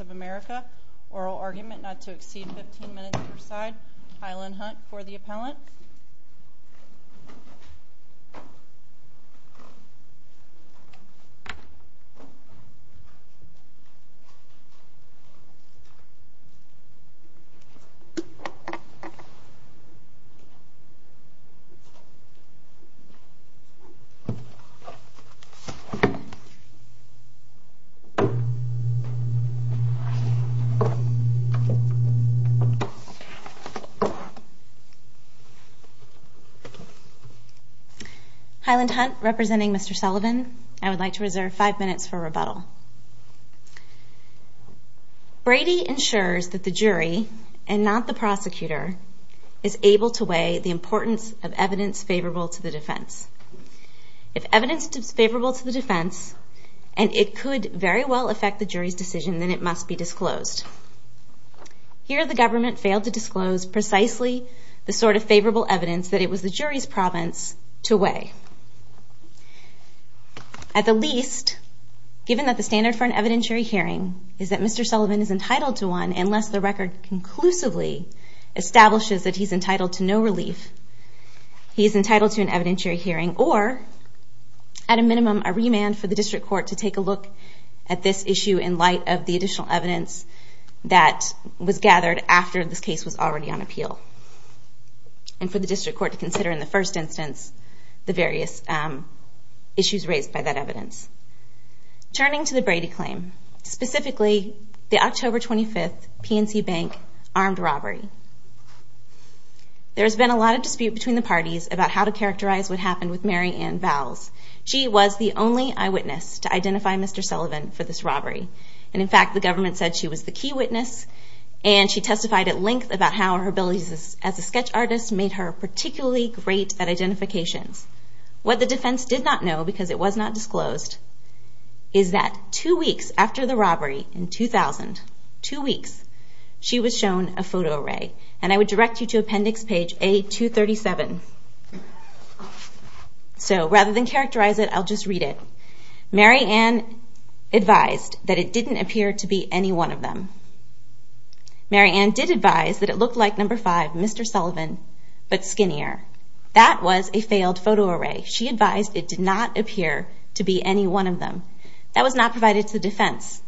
of America, oral argument not to exceed 15 minutes per side, Hyland Hunt for the appellant. Hyland Hunt v. United States of America, oral argument not to exceed 15 minutes per side, Hyland Hunt representing Mr. Sullivan. I would like to reserve five minutes for rebuttal. Brady ensures that the jury and not the prosecutor is able to weigh the importance of evidence favorable to the defense. If evidence is favorable to the defense and it could very well affect the jury's decision, then it must be disclosed. Here the government failed to disclose precisely the sort of favorable evidence that it was the jury's province to weigh. At the least, given that the standard for an evidentiary hearing is that Mr. Sullivan is entitled to one, unless the record conclusively establishes that he's entitled to no relief, he is entitled to an evidentiary hearing or, at a minimum, a remand for the district court to take a look at this issue in light of the additional evidence that was gathered after this case was already on appeal, and for the district court to consider in the first instance the various issues raised by that evidence. Turning to the Brady claim, specifically the October 25th PNC Bank armed robbery, there's been a lot of dispute between the parties about how to characterize what happened with Mary Ann Vowles. She was the only eyewitness to identify Mr. Sullivan for this robbery, and in fact the government said she was the key witness, and she testified at length about how her abilities as a sketch artist made her particularly great at identifications. What the defense did not know, because it was not disclosed, is that two weeks after the robbery in 2000, two weeks, she was shown a photo array, and I would direct you to appendix page A237. So rather than characterize it, I'll just read it. Mary Ann advised that it didn't appear to be any one of them. Mary Ann did advise that it looked like number five, Mr. Sullivan, but skinnier. That was a failed photo array. She advised it did not appear to be any one of them. That was not provided to the defense.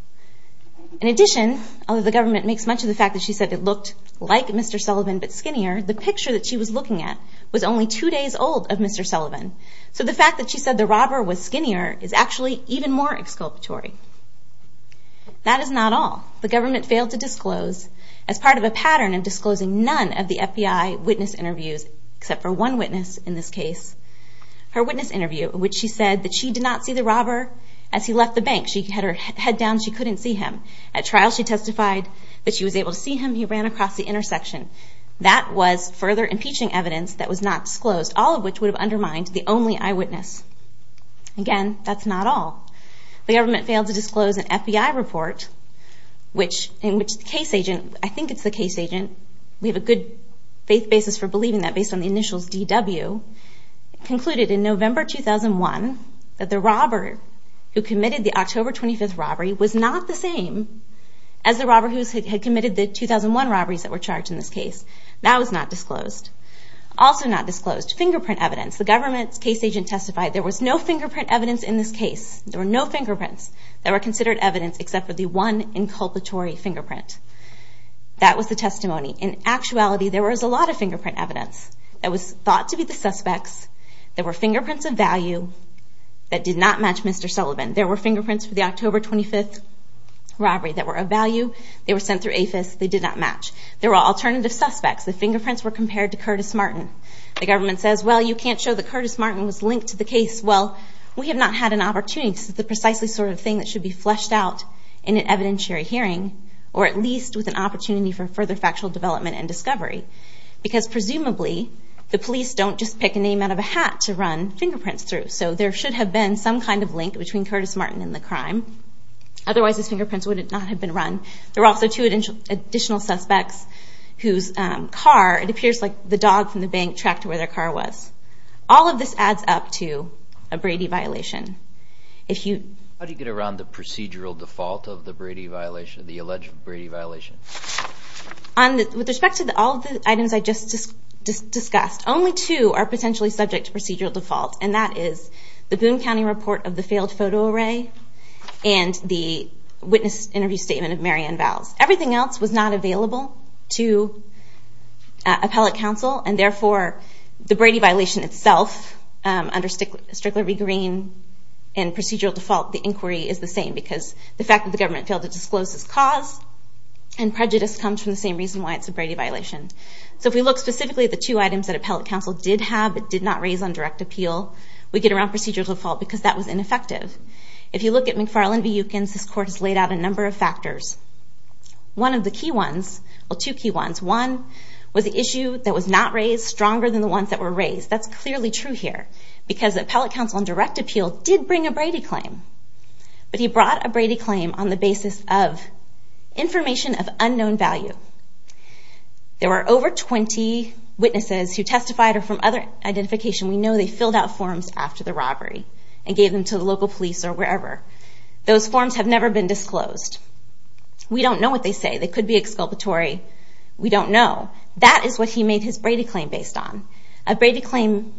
In addition, although the government makes much of the fact that she said it looked like Mr. Sullivan but skinnier, the picture that she was looking at was only two days old of Mr. Sullivan. So the fact that she said the robber was skinnier is actually even more exculpatory. That is not all. The government failed to disclose, as part of a pattern of disclosing none of the FBI witness interviews, except for one witness in this case. Her witness interview, in which she said that she did not see the robber as he left the bank. She had her head down. She couldn't see him. At trial, she testified that she was able to see him. He ran across the intersection. That was further impeaching evidence that was not disclosed, all of which would have undermined the only eyewitness. Again, that's not all. The government failed to disclose an FBI report in which the case agent, I think it's the case agent, we have a good faith basis for believing that based on the initials DW, concluded in November 2001 that the robber who committed the October 25th robbery was not the same as the robber who had committed the 2001 robberies that were charged in this case. That was not disclosed. Also not disclosed, fingerprint evidence. The government's case agent testified there was no fingerprint evidence in this case. There were no fingerprints that were considered evidence except for the one inculpatory fingerprint. That was the testimony. In actuality, there was a lot of fingerprint evidence that was thought to be the suspect's. There were fingerprints of value that did not match Mr. Sullivan. There were fingerprints for the October 25th robbery that were of value. They were sent through APHIS. They did not match. There were alternative suspects. The fingerprints were compared to Curtis Martin. The government says, well, you can't show that Curtis Martin was linked to the case. Well, we have not had an opportunity. This is the precisely sort of thing that should be fleshed out in an evidentiary hearing or at least with an opportunity for further factual development and discovery because presumably the police don't just pick a name out of a hat to run fingerprints through. So there should have been some kind of link between Curtis Martin and the crime. Otherwise, his fingerprints would not have been run. There were also two additional suspects whose car, it appears like the dog from the bank, tracked to where their car was. All of this adds up to a Brady violation. How do you get around the procedural default of the Brady violation, the alleged Brady violation? With respect to all of the items I just discussed, only two are potentially subject to procedural default, and that is the Boone County report of the failed photo array and the witness interview statement of Mary Ann Vowles. Everything else was not available to appellate counsel, and therefore the Brady violation itself under Strickler v. Green and procedural default, the inquiry is the same because the fact that the government failed to disclose its cause and prejudice comes from the same reason why it's a Brady violation. So if we look specifically at the two items that appellate counsel did have but did not raise on direct appeal, we get around procedural default because that was ineffective. If you look at McFarland v. Eukins, this court has laid out a number of factors. One of the key ones, well, two key ones. One was the issue that was not raised stronger than the ones that were raised. That's clearly true here because appellate counsel on direct appeal did bring a Brady claim, but he brought a Brady claim on the basis of information of unknown value. There were over 20 witnesses who testified or from other identification. We know they filled out forms after the robbery and gave them to the local police or wherever. Those forms have never been disclosed. We don't know what they say. They could be exculpatory. We don't know. That is what he made his Brady claim based on. A Brady claim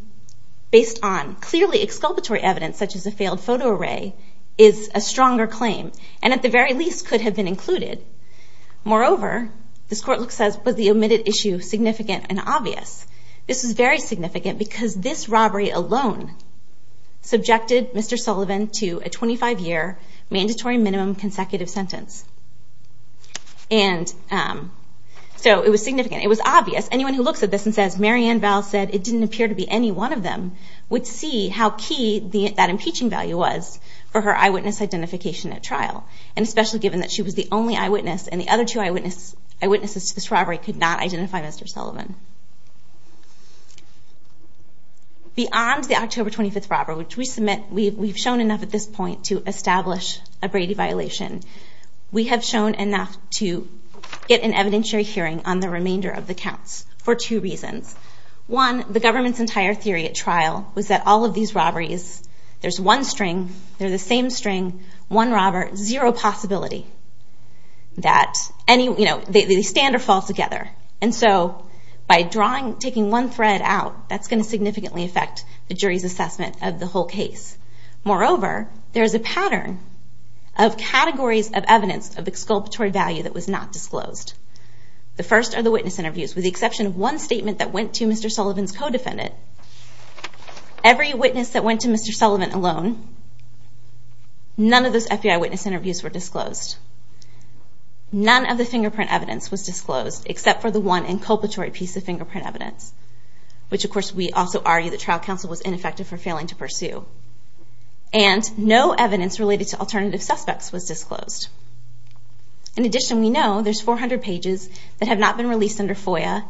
based on clearly exculpatory evidence such as a failed photo array is a stronger claim and at the very least could have been included. Moreover, this court looks at was the omitted issue significant and obvious. This was very significant because this robbery alone subjected Mr. Sullivan to a 25-year mandatory minimum consecutive sentence. And so it was significant. It was obvious. Anyone who looks at this and says Mary Ann Val said it didn't appear to be any one of them would see how key that impeaching value was for her eyewitness identification at trial, and especially given that she was the only eyewitness and the other two eyewitnesses to this robbery could not identify Mr. Sullivan. Beyond the October 25th robbery, which we've shown enough at this point to establish a Brady violation, we have shown enough to get an evidentiary hearing on the remainder of the counts for two reasons. One, the government's entire theory at trial was that all of these robberies, there's one string, they're the same string, one robber, zero possibility. They stand or fall together. And so by taking one thread out, that's going to significantly affect the jury's assessment of the whole case. Moreover, there is a pattern of categories of evidence of exculpatory value that was not disclosed. The first are the witness interviews. With the exception of one statement that went to Mr. Sullivan's co-defendant, every witness that went to Mr. Sullivan alone, none of those FBI witness interviews were disclosed. None of the fingerprint evidence was disclosed, except for the one inculpatory piece of fingerprint evidence, which of course we also argue that trial counsel was ineffective for failing to pursue. And no evidence related to alternative suspects was disclosed. In addition, we know there's 400 pages that have not been released under FOIA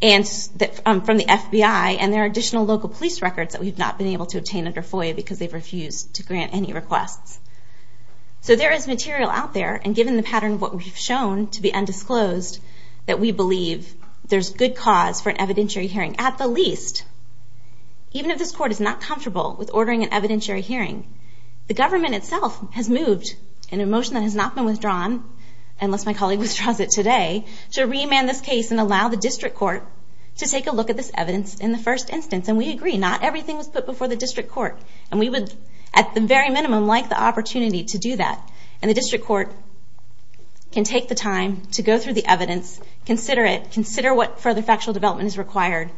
from the FBI, and there are additional local police records that we've not been able to obtain under FOIA because they've refused to grant any requests. So there is material out there, and given the pattern of what we've shown to be undisclosed, that we believe there's good cause for an evidentiary hearing. At the least, even if this court is not comfortable with ordering an evidentiary hearing, the government itself has moved in a motion that has not been withdrawn, unless my colleague withdraws it today, to remand this case and allow the district court to take a look at this evidence in the first instance. And we agree, not everything was put before the district court. And we would, at the very minimum, like the opportunity to do that. And the district court can take the time to go through the evidence, consider it, consider what further factual development is required.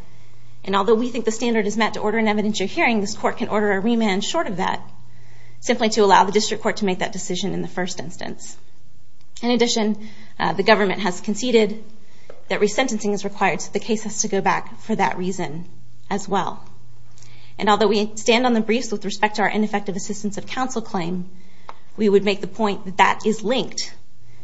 And although we think the standard is met to order an evidentiary hearing, this court can order a remand short of that, simply to allow the district court to make that decision in the first instance. In addition, the government has conceded that resentencing is required, so the case has to go back for that reason as well. And although we stand on the briefs with respect to our ineffective assistance of counsel claim, we would make the point that that is linked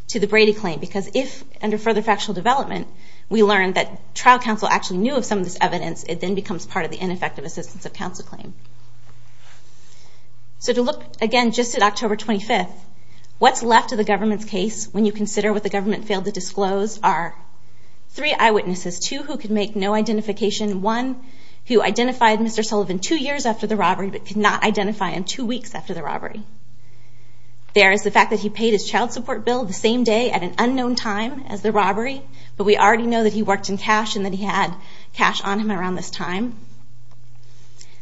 to the Brady claim. Because if, under further factual development, we learn that trial counsel actually knew of some of this evidence, it then becomes part of the ineffective assistance of counsel claim. So to look, again, just at October 25th, what's left of the government's case when you consider what the government failed to disclose are three eyewitnesses, two who could make no identification, one who identified Mr. Sullivan two years after the robbery but could not identify him two weeks after the robbery. There is the fact that he paid his child support bill the same day at an unknown time as the robbery, but we already know that he worked in cash and that he had cash on him around this time.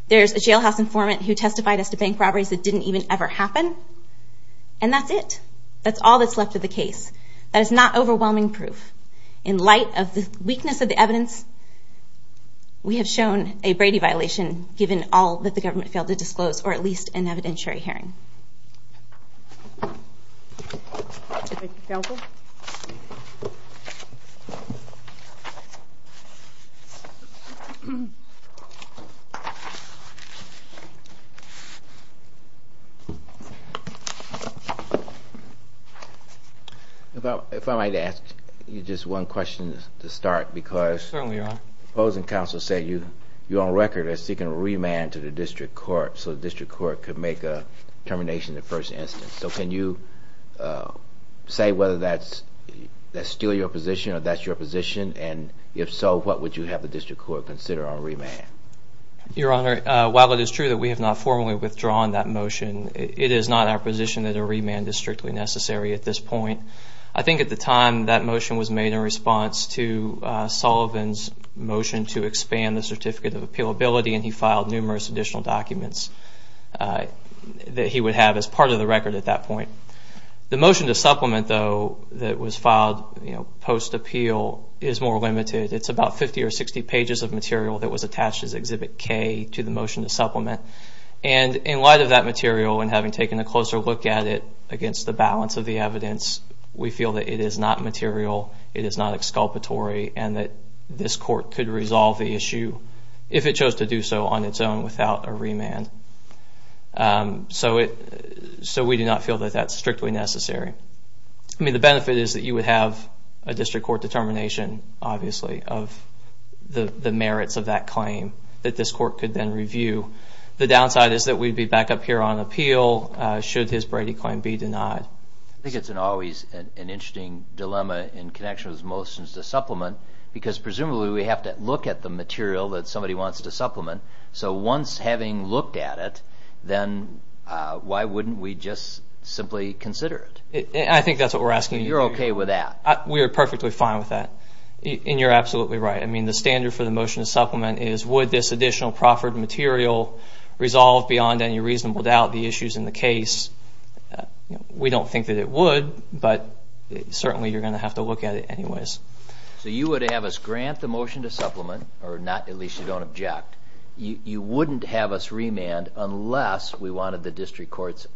There's a jailhouse informant who testified as to bank robberies that didn't even ever happen. And that's it. That's all that's left of the case. That is not overwhelming proof. In light of the weakness of the evidence, we have shown a Brady violation given all that the government failed to disclose, or at least an evidentiary hearing. If I might ask you just one question to start because... Certainly, Your Honor. Opposing counsel say you're on record as seeking a remand to the district court so the district court could make a termination of the first instance. So can you say whether that's still your position or that's your position? And if so, what would you have the district court consider on remand? Well, I think that's a good question. Your Honor, while it is true that we have not formally withdrawn that motion, it is not our position that a remand is strictly necessary at this point. I think at the time that motion was made in response to Sullivan's motion to expand the certificate of appealability, and he filed numerous additional documents that he would have as part of the record at that point. The motion to supplement, though, that was filed post-appeal is more limited. It's about 50 or 60 pages of material that was attached as Exhibit K to the motion to supplement. And in light of that material and having taken a closer look at it against the balance of the evidence, we feel that it is not material, it is not exculpatory, and that this court could resolve the issue if it chose to do so on its own without a remand. So we do not feel that that's strictly necessary. I mean, the benefit is that you would have a district court determination, obviously, of the merits of that claim that this court could then review. The downside is that we'd be back up here on appeal should his Brady claim be denied. I think it's always an interesting dilemma in connection with the motions to supplement because presumably we have to look at the material that somebody wants to supplement. So once having looked at it, then why wouldn't we just simply consider it? I think that's what we're asking. You're okay with that? We are perfectly fine with that, and you're absolutely right. I mean, the standard for the motion to supplement is would this additional proffered material resolve beyond any reasonable doubt the issues in the case? We don't think that it would, but certainly you're going to have to look at it anyways. So you would have us grant the motion to supplement, or at least you don't object. You wouldn't have us remand unless we wanted the district court's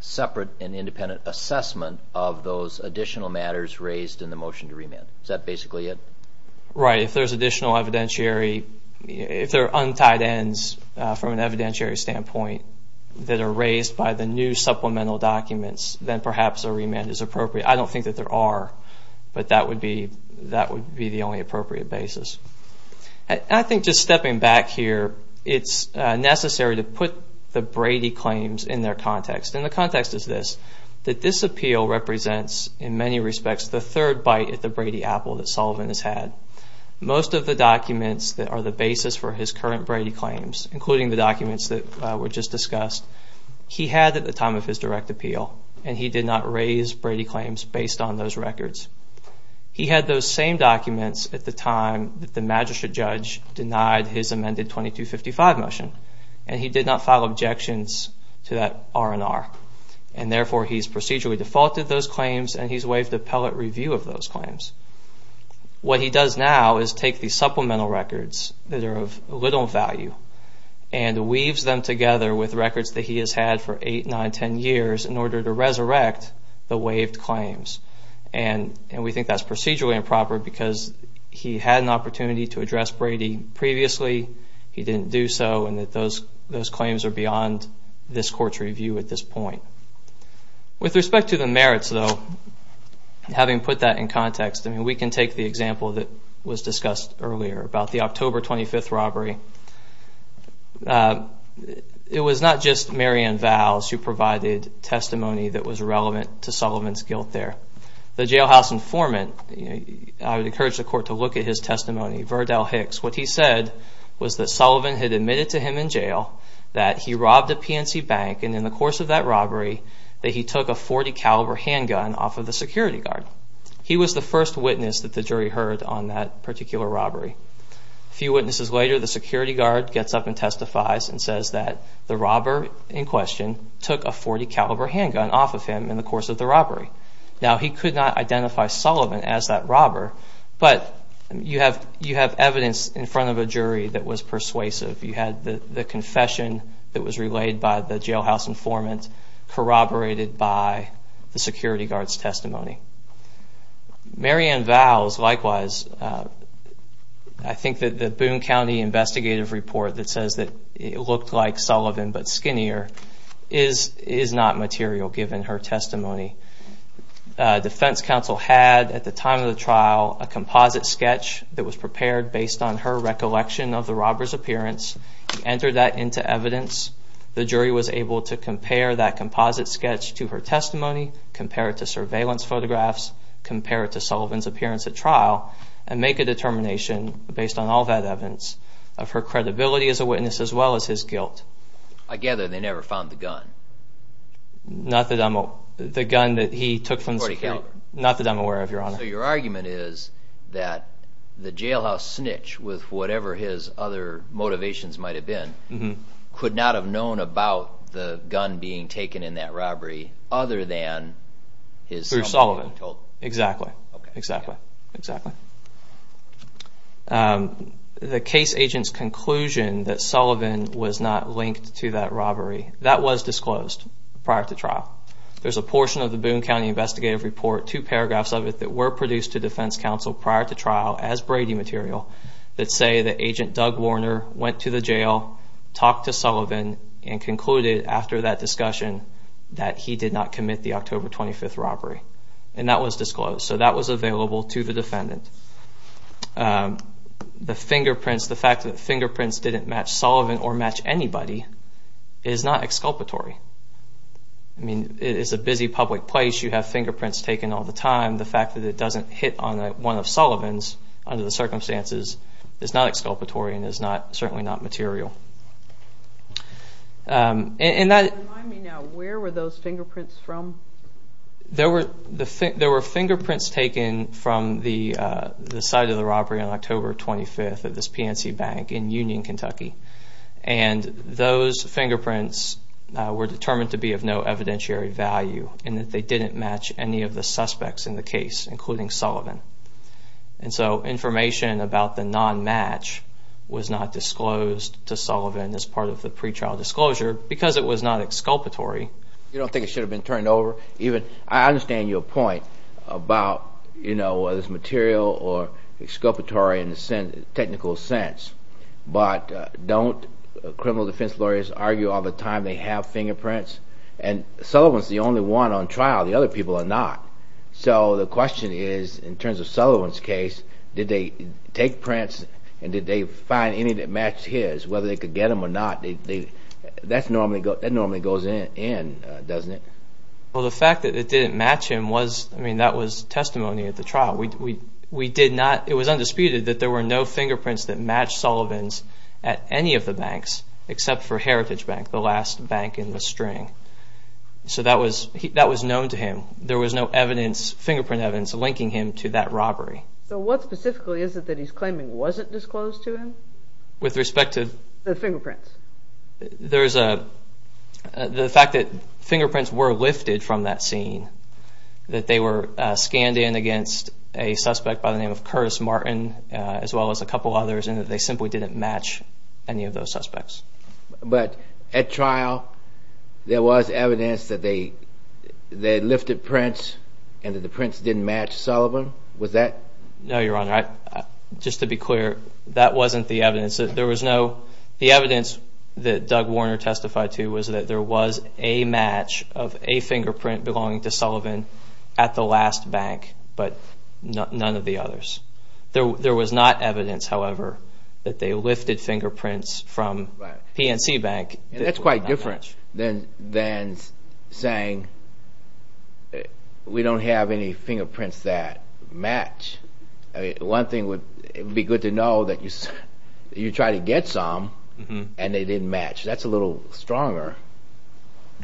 separate and independent assessment of those additional matters raised in the motion to remand. Is that basically it? Right. If there's additional evidentiary, if there are untied ends from an evidentiary standpoint that are raised by the new supplemental documents, then perhaps a remand is appropriate. I don't think that there are, but that would be the only appropriate basis. I think just stepping back here, it's necessary to put the Brady claims in their context. And the context is this, that this appeal represents in many respects the third bite at the Brady apple that Sullivan has had. Most of the documents that are the basis for his current Brady claims, including the documents that were just discussed, he had at the time of his direct appeal, and he did not raise Brady claims based on those records. He had those same documents at the time that the magistrate judge denied his amended 2255 motion, and he did not file objections to that R&R. And therefore, he's procedurally defaulted those claims, and he's waived appellate review of those claims. What he does now is take the supplemental records that are of little value and weaves them together with records that he has had for 8, 9, 10 years in order to resurrect the waived claims. And we think that's procedurally improper because he had an opportunity to address Brady previously. He didn't do so, and those claims are beyond this court's review at this point. With respect to the merits, though, having put that in context, I mean, we can take the example that was discussed earlier about the October 25th robbery. It was not just Mary Ann Vowles who provided testimony that was relevant to Sullivan's guilt there. The jailhouse informant, I would encourage the court to look at his testimony, Verdell Hicks. What he said was that Sullivan had admitted to him in jail that he robbed a PNC bank, and in the course of that robbery that he took a .40 caliber handgun off of the security guard. He was the first witness that the jury heard on that particular robbery. A few witnesses later, the security guard gets up and testifies and says that the robber in question took a .40 caliber handgun off of him in the course of the robbery. Now, he could not identify Sullivan as that robber, but you have evidence in front of a jury that was persuasive. You had the confession that was relayed by the jailhouse informant corroborated by the security guard's testimony. Mary Ann Vowles, likewise, I think that the Boone County investigative report that says that it looked like Sullivan but skinnier is not material given her testimony. Defense counsel had, at the time of the trial, a composite sketch that was prepared He entered that into evidence. The jury was able to compare that composite sketch to her testimony, compare it to surveillance photographs, compare it to Sullivan's appearance at trial, and make a determination, based on all that evidence, of her credibility as a witness as well as his guilt. I gather they never found the gun. Not the gun that he took from security. .40 caliber. Not that I'm aware of, Your Honor. So your argument is that the jailhouse snitch, with whatever his other motivations might have been, could not have known about the gun being taken in that robbery other than his... Through Sullivan. Exactly. The case agent's conclusion that Sullivan was not linked to that robbery, that was disclosed prior to trial. There's a portion of the Boone County investigative report, two paragraphs of it, that were produced to defense counsel prior to trial as Brady material, that say that agent Doug Warner went to the jail, talked to Sullivan, and concluded after that discussion that he did not commit the October 25th robbery. And that was disclosed. So that was available to the defendant. The fingerprints, the fact that the fingerprints didn't match Sullivan or match anybody, is not exculpatory. I mean, it is a busy public place. You have fingerprints taken all the time. The fact that it doesn't hit one of Sullivan's, under the circumstances, is not exculpatory and is certainly not material. And that... Remind me now, where were those fingerprints from? There were fingerprints taken from the site of the robbery on October 25th at this PNC bank in Union, Kentucky. And those fingerprints were determined to be of no evidentiary value in that they didn't match any of the suspects in the case, including Sullivan. And so information about the non-match was not disclosed to Sullivan as part of the pretrial disclosure because it was not exculpatory. You don't think it should have been turned over? I understand your point about, you know, whether it's material or exculpatory in the technical sense. But don't criminal defense lawyers argue all the time they have fingerprints? And Sullivan's the only one on trial. The other people are not. So the question is, in terms of Sullivan's case, did they take prints and did they find any that matched his, whether they could get them or not? That normally goes in, doesn't it? Well, the fact that it didn't match him was... I mean, that was testimony at the trial. It was undisputed that there were no fingerprints that matched Sullivan's at any of the banks except for Heritage Bank, the last bank in the string. So that was known to him. There was no fingerprint evidence linking him to that robbery. So what specifically is it that he's claiming wasn't disclosed to him? With respect to... The fingerprints. The fact that fingerprints were lifted from that scene, that they were scanned in against a suspect by the name of Curtis Martin as well as a couple others, and that they simply didn't match any of those suspects. But at trial, there was evidence that they lifted prints and that the prints didn't match Sullivan? Was that...? No, Your Honor. Just to be clear, that wasn't the evidence. The evidence that Doug Warner testified to was that there was a match of a fingerprint belonging to Sullivan at the last bank but none of the others. There was not evidence, however, that they lifted fingerprints from PNC Bank. And that's quite different than saying we don't have any fingerprints that match. One thing would be good to know that you try to get some and they didn't match. That's a little stronger.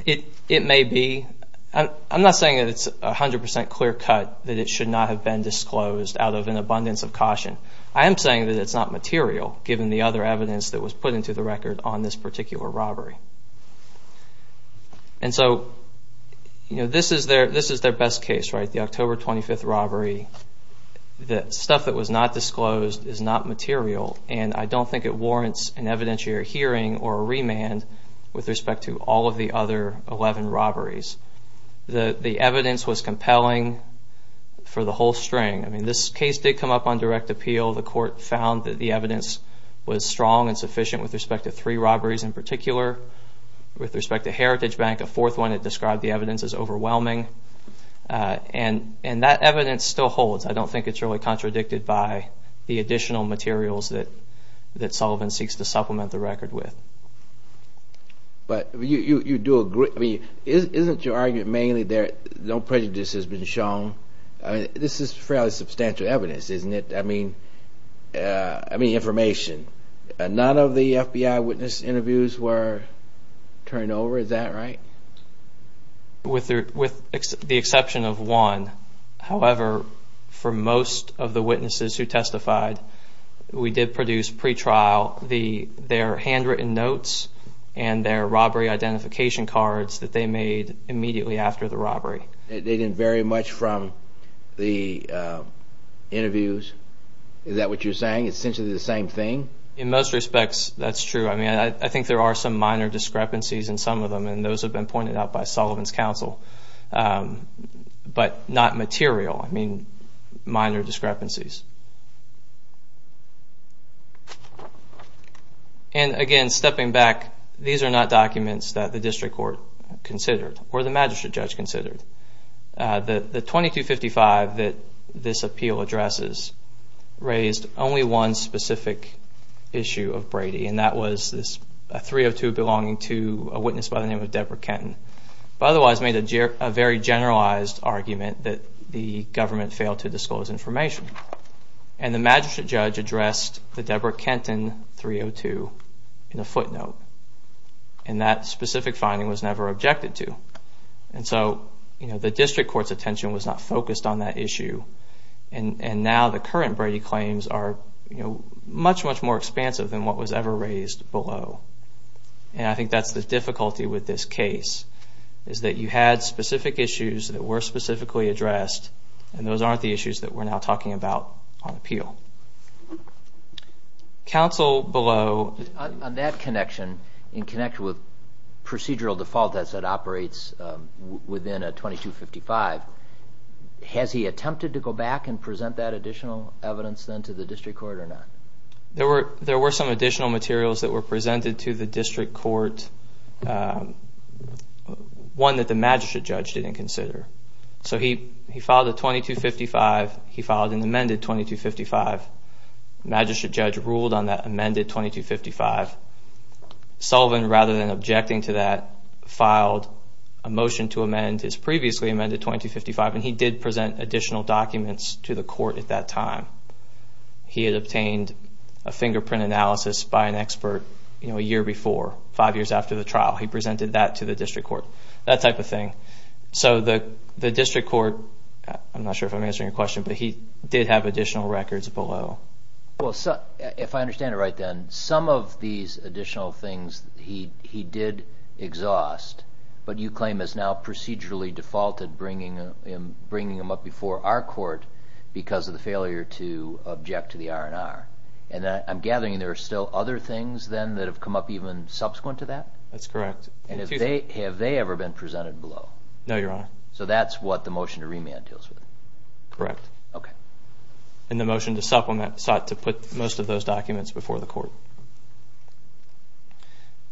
It may be. I'm not saying that it's a 100% clear cut that it should not have been disclosed out of an abundance of caution. I am saying that it's not material given the other evidence that was put into the record on this particular robbery. And so this is their best case, right? The October 25th robbery. The stuff that was not disclosed is not material, and I don't think it warrants an evidentiary hearing or a remand with respect to all of the other 11 robberies. The evidence was compelling for the whole string. This case did come up on direct appeal. The court found that the evidence was strong and sufficient with respect to three robberies in particular. With respect to Heritage Bank, a fourth one, it described the evidence as overwhelming. And that evidence still holds. I don't think it's really contradicted by the additional materials that Sullivan seeks to supplement the record with. But isn't your argument mainly that no prejudice has been shown? This is fairly substantial evidence, isn't it? I mean information. None of the FBI witness interviews were turned over, is that right? With the exception of one. However, for most of the witnesses who testified, we did produce pretrial, their handwritten notes and their robbery identification cards that they made immediately after the robbery. They didn't vary much from the interviews? Is that what you're saying? It's essentially the same thing? In most respects, that's true. I mean I think there are some minor discrepancies in some of them, and those have been pointed out by Sullivan's counsel. But not material. I mean minor discrepancies. And again, stepping back, these are not documents that the district court considered or the magistrate judge considered. The 2255 that this appeal addresses raised only one specific issue of Brady, and that was a 302 belonging to a witness by the name of Deborah Kenton. But otherwise made a very generalized argument that the government failed to disclose information. And the magistrate judge addressed the Deborah Kenton 302 in a footnote, and that specific finding was never objected to. And so the district court's attention was not focused on that issue, and now the current Brady claims are much, much more expansive than what was ever raised below. And I think that's the difficulty with this case, is that you had specific issues that were specifically addressed, and those aren't the issues that we're now talking about on appeal. Counsel below... On that connection, in connection with procedural default as it operates within a 2255, has he attempted to go back and present that additional evidence then to the district court or not? There were some additional materials that were presented to the district court, one that the magistrate judge didn't consider. So he filed a 2255. He filed an amended 2255. The magistrate judge ruled on that amended 2255. Sullivan, rather than objecting to that, filed a motion to amend his previously amended 2255, and he did present additional documents to the court at that time. He had obtained a fingerprint analysis by an expert a year before, five years after the trial. He presented that to the district court, that type of thing. So the district court... I'm not sure if I'm answering your question, but he did have additional records below. Well, if I understand it right then, some of these additional things he did exhaust, but you claim has now procedurally defaulted bringing them up before our court because of the failure to object to the R&R. And I'm gathering there are still other things then that have come up even subsequent to that? That's correct. And have they ever been presented below? No, Your Honor. So that's what the motion to remand deals with? Correct. Okay. And the motion to supplement sought to put most of those documents before the court.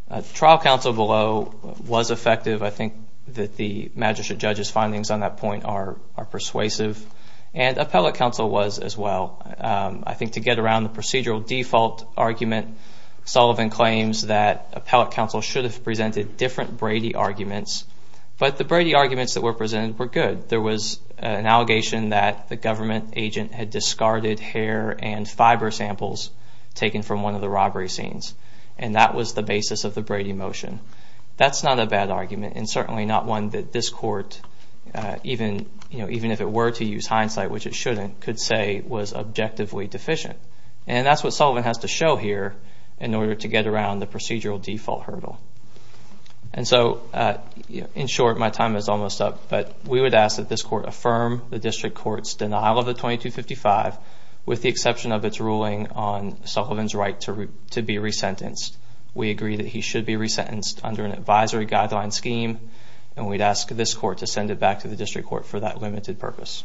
The trial counsel below was effective. I think that the magistrate judge's findings on that point are persuasive. And appellate counsel was as well. I think to get around the procedural default argument, Sullivan claims that appellate counsel should have presented different Brady arguments, but the Brady arguments that were presented were good. There was an allegation that the government agent had discarded hair and fiber samples taken from one of the robbery scenes, and that was the basis of the Brady motion. That's not a bad argument, and certainly not one that this court, even if it were to use hindsight, which it shouldn't, could say was objectively deficient. And that's what Sullivan has to show here in order to get around the procedural default hurdle. And so, in short, my time is almost up, but we would ask that this court affirm the district court's denial of the 2255 with the exception of its ruling on Sullivan's right to be resentenced. We agree that he should be resentenced under an advisory guideline scheme, and we'd ask this court to send it back to the district court for that limited purpose.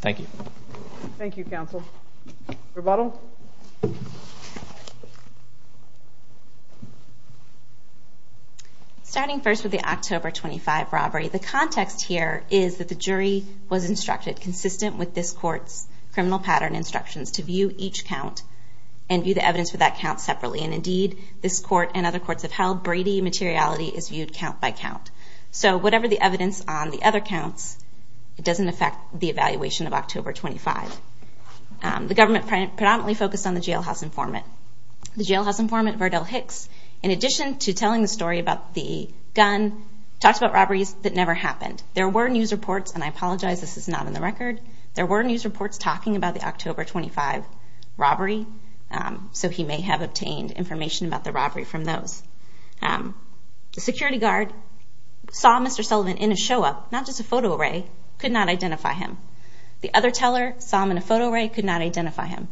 Thank you. Thank you, counsel. Rebuttal? Starting first with the October 25 robbery, the context here is that the jury was instructed, consistent with this court's criminal pattern instructions, to view each count and view the evidence for that count separately. And indeed, this court and other courts have held Brady materiality is viewed count by count. So whatever the evidence on the other counts, it doesn't affect the evaluation of October 25. The government predominantly focused on the jailhouse informant. The jailhouse informant, Verdell Hicks, in addition to telling the story about the gun, talks about robberies that never happened. There were news reports, and I apologize, this is not in the record, there were news reports talking about the October 25 robbery, so he may have obtained information about the robbery from those. The security guard saw Mr. Sullivan in a show-up, not just a photo array, could not identify him. The other teller saw him in a photo array, could not identify him.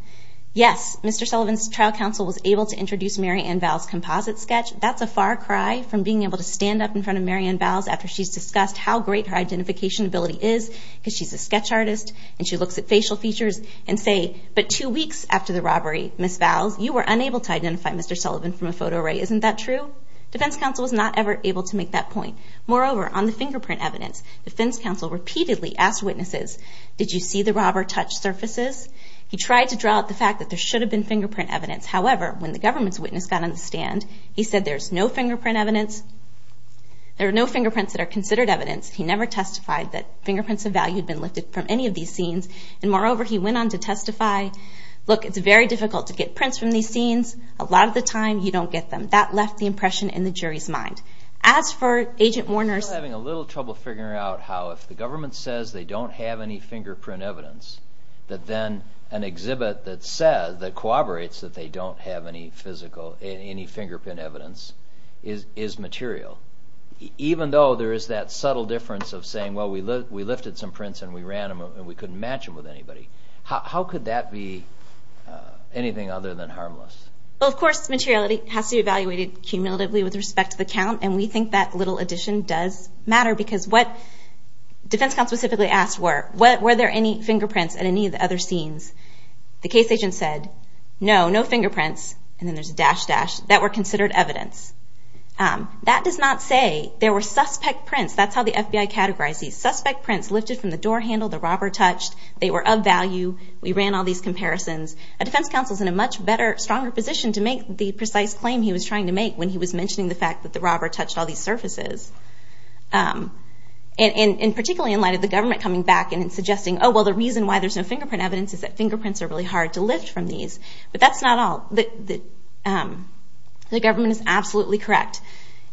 Yes, Mr. Sullivan's trial counsel was able to introduce Mary Ann Val's composite sketch. That's a far cry from being able to stand up in front of Mary Ann Val's after she's discussed how great her identification ability is, because she's a sketch artist and she looks at facial features, and say, but two weeks after the robbery, Ms. Val's, you were unable to identify Mr. Sullivan from a photo array. Isn't that true? Defense counsel was not ever able to make that point. Moreover, on the fingerprint evidence, defense counsel repeatedly asked witnesses, did you see the robber touch surfaces? He tried to draw out the fact that there should have been fingerprint evidence. However, when the government's witness got on the stand, he said there's no fingerprint evidence. There are no fingerprints that are considered evidence. He never testified that fingerprints of value had been lifted from any of these scenes, and moreover, he went on to testify, look, it's very difficult to get prints from these scenes. A lot of the time, you don't get them. That left the impression in the jury's mind. As for Agent Warner's- We're still having a little trouble figuring out how, if the government says they don't have any fingerprint evidence, that then an exhibit that says, that corroborates that they don't have any physical, any fingerprint evidence is material. Even though there is that subtle difference of saying, well, we lifted some prints and we ran them and we couldn't match them with anybody. How could that be anything other than harmless? Well, of course, materiality has to be evaluated cumulatively with respect to the count, and we think that little addition does matter because what defense counsel specifically asked were, were there any fingerprints at any of the other scenes? The case agent said, no, no fingerprints, and then there's a dash, dash, that were considered evidence. That does not say there were suspect prints. That's how the FBI categorizes these. They were handled, the robber touched, they were of value, we ran all these comparisons. A defense counsel's in a much better, stronger position to make the precise claim he was trying to make when he was mentioning the fact that the robber touched all these surfaces. And particularly in light of the government coming back and suggesting, oh, well, the reason why there's no fingerprint evidence is that fingerprints are really hard to lift from these. But that's not all. The government is absolutely correct.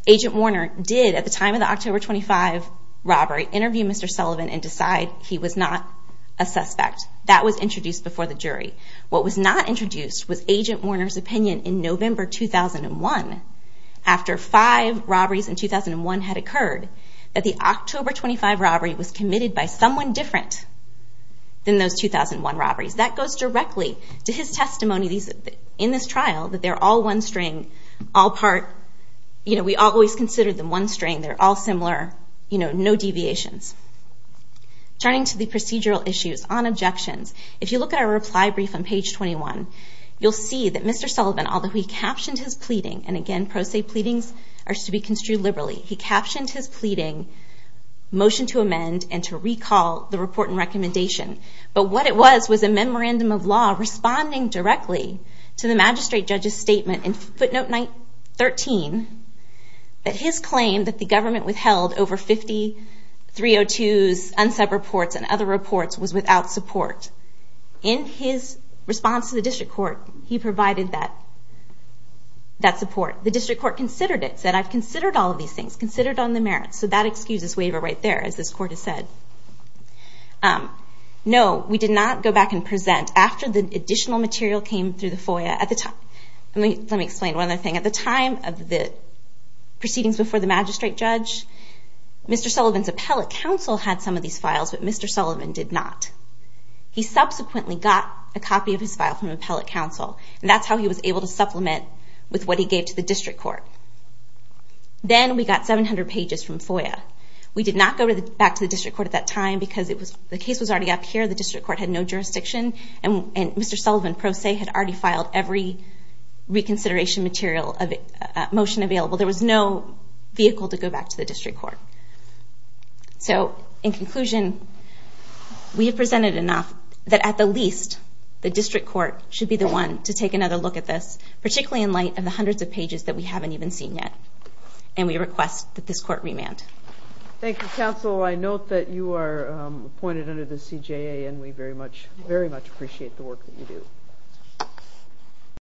Agent Warner did, at the time of the October 25 robbery, interview Mr. Sullivan and decide he was not a suspect. That was introduced before the jury. What was not introduced was Agent Warner's opinion in November 2001, after five robberies in 2001 had occurred, that the October 25 robbery was committed by someone different than those 2001 robberies. That goes directly to his testimony in this trial, that they're all one string, all part, you know, we always consider them one string. They're all similar. You know, no deviations. Turning to the procedural issues on objections. If you look at our reply brief on page 21, you'll see that Mr. Sullivan, although he captioned his pleading, and again, pro se pleadings are to be construed liberally, he captioned his pleading motion to amend and to recall the report and recommendation. But what it was, was a memorandum of law responding directly to the magistrate judge's statement in footnote 13, that his claim that the government withheld over 5302's unsub reports and other reports was without support. In his response to the district court, he provided that support. The district court considered it, said I've considered all of these things, considered on the merits. So that excuses waiver right there, as this court has said. No, we did not go back and present. After the additional material came through the FOIA, at the time, let me explain one other thing. At the time of the proceedings before the magistrate judge, Mr. Sullivan's appellate counsel had some of these files, but Mr. Sullivan did not. He subsequently got a copy of his file from appellate counsel. And that's how he was able to supplement with what he gave to the district court. Then we got 700 pages from FOIA. We did not go back to the district court at that time because the case was already up here. The district court had no jurisdiction. And Mr. Sullivan, pro se, had already filed every reconsideration material, motion available. There was no vehicle to go back to the district court. So, in conclusion, we have presented enough that at the least, the district court should be the one to take another look at this, particularly in light of the hundreds of pages that we haven't even seen yet. And we request that this court remand. Thank you, counsel. I note that you are appointed under the CJA, and we very much appreciate the work that you do.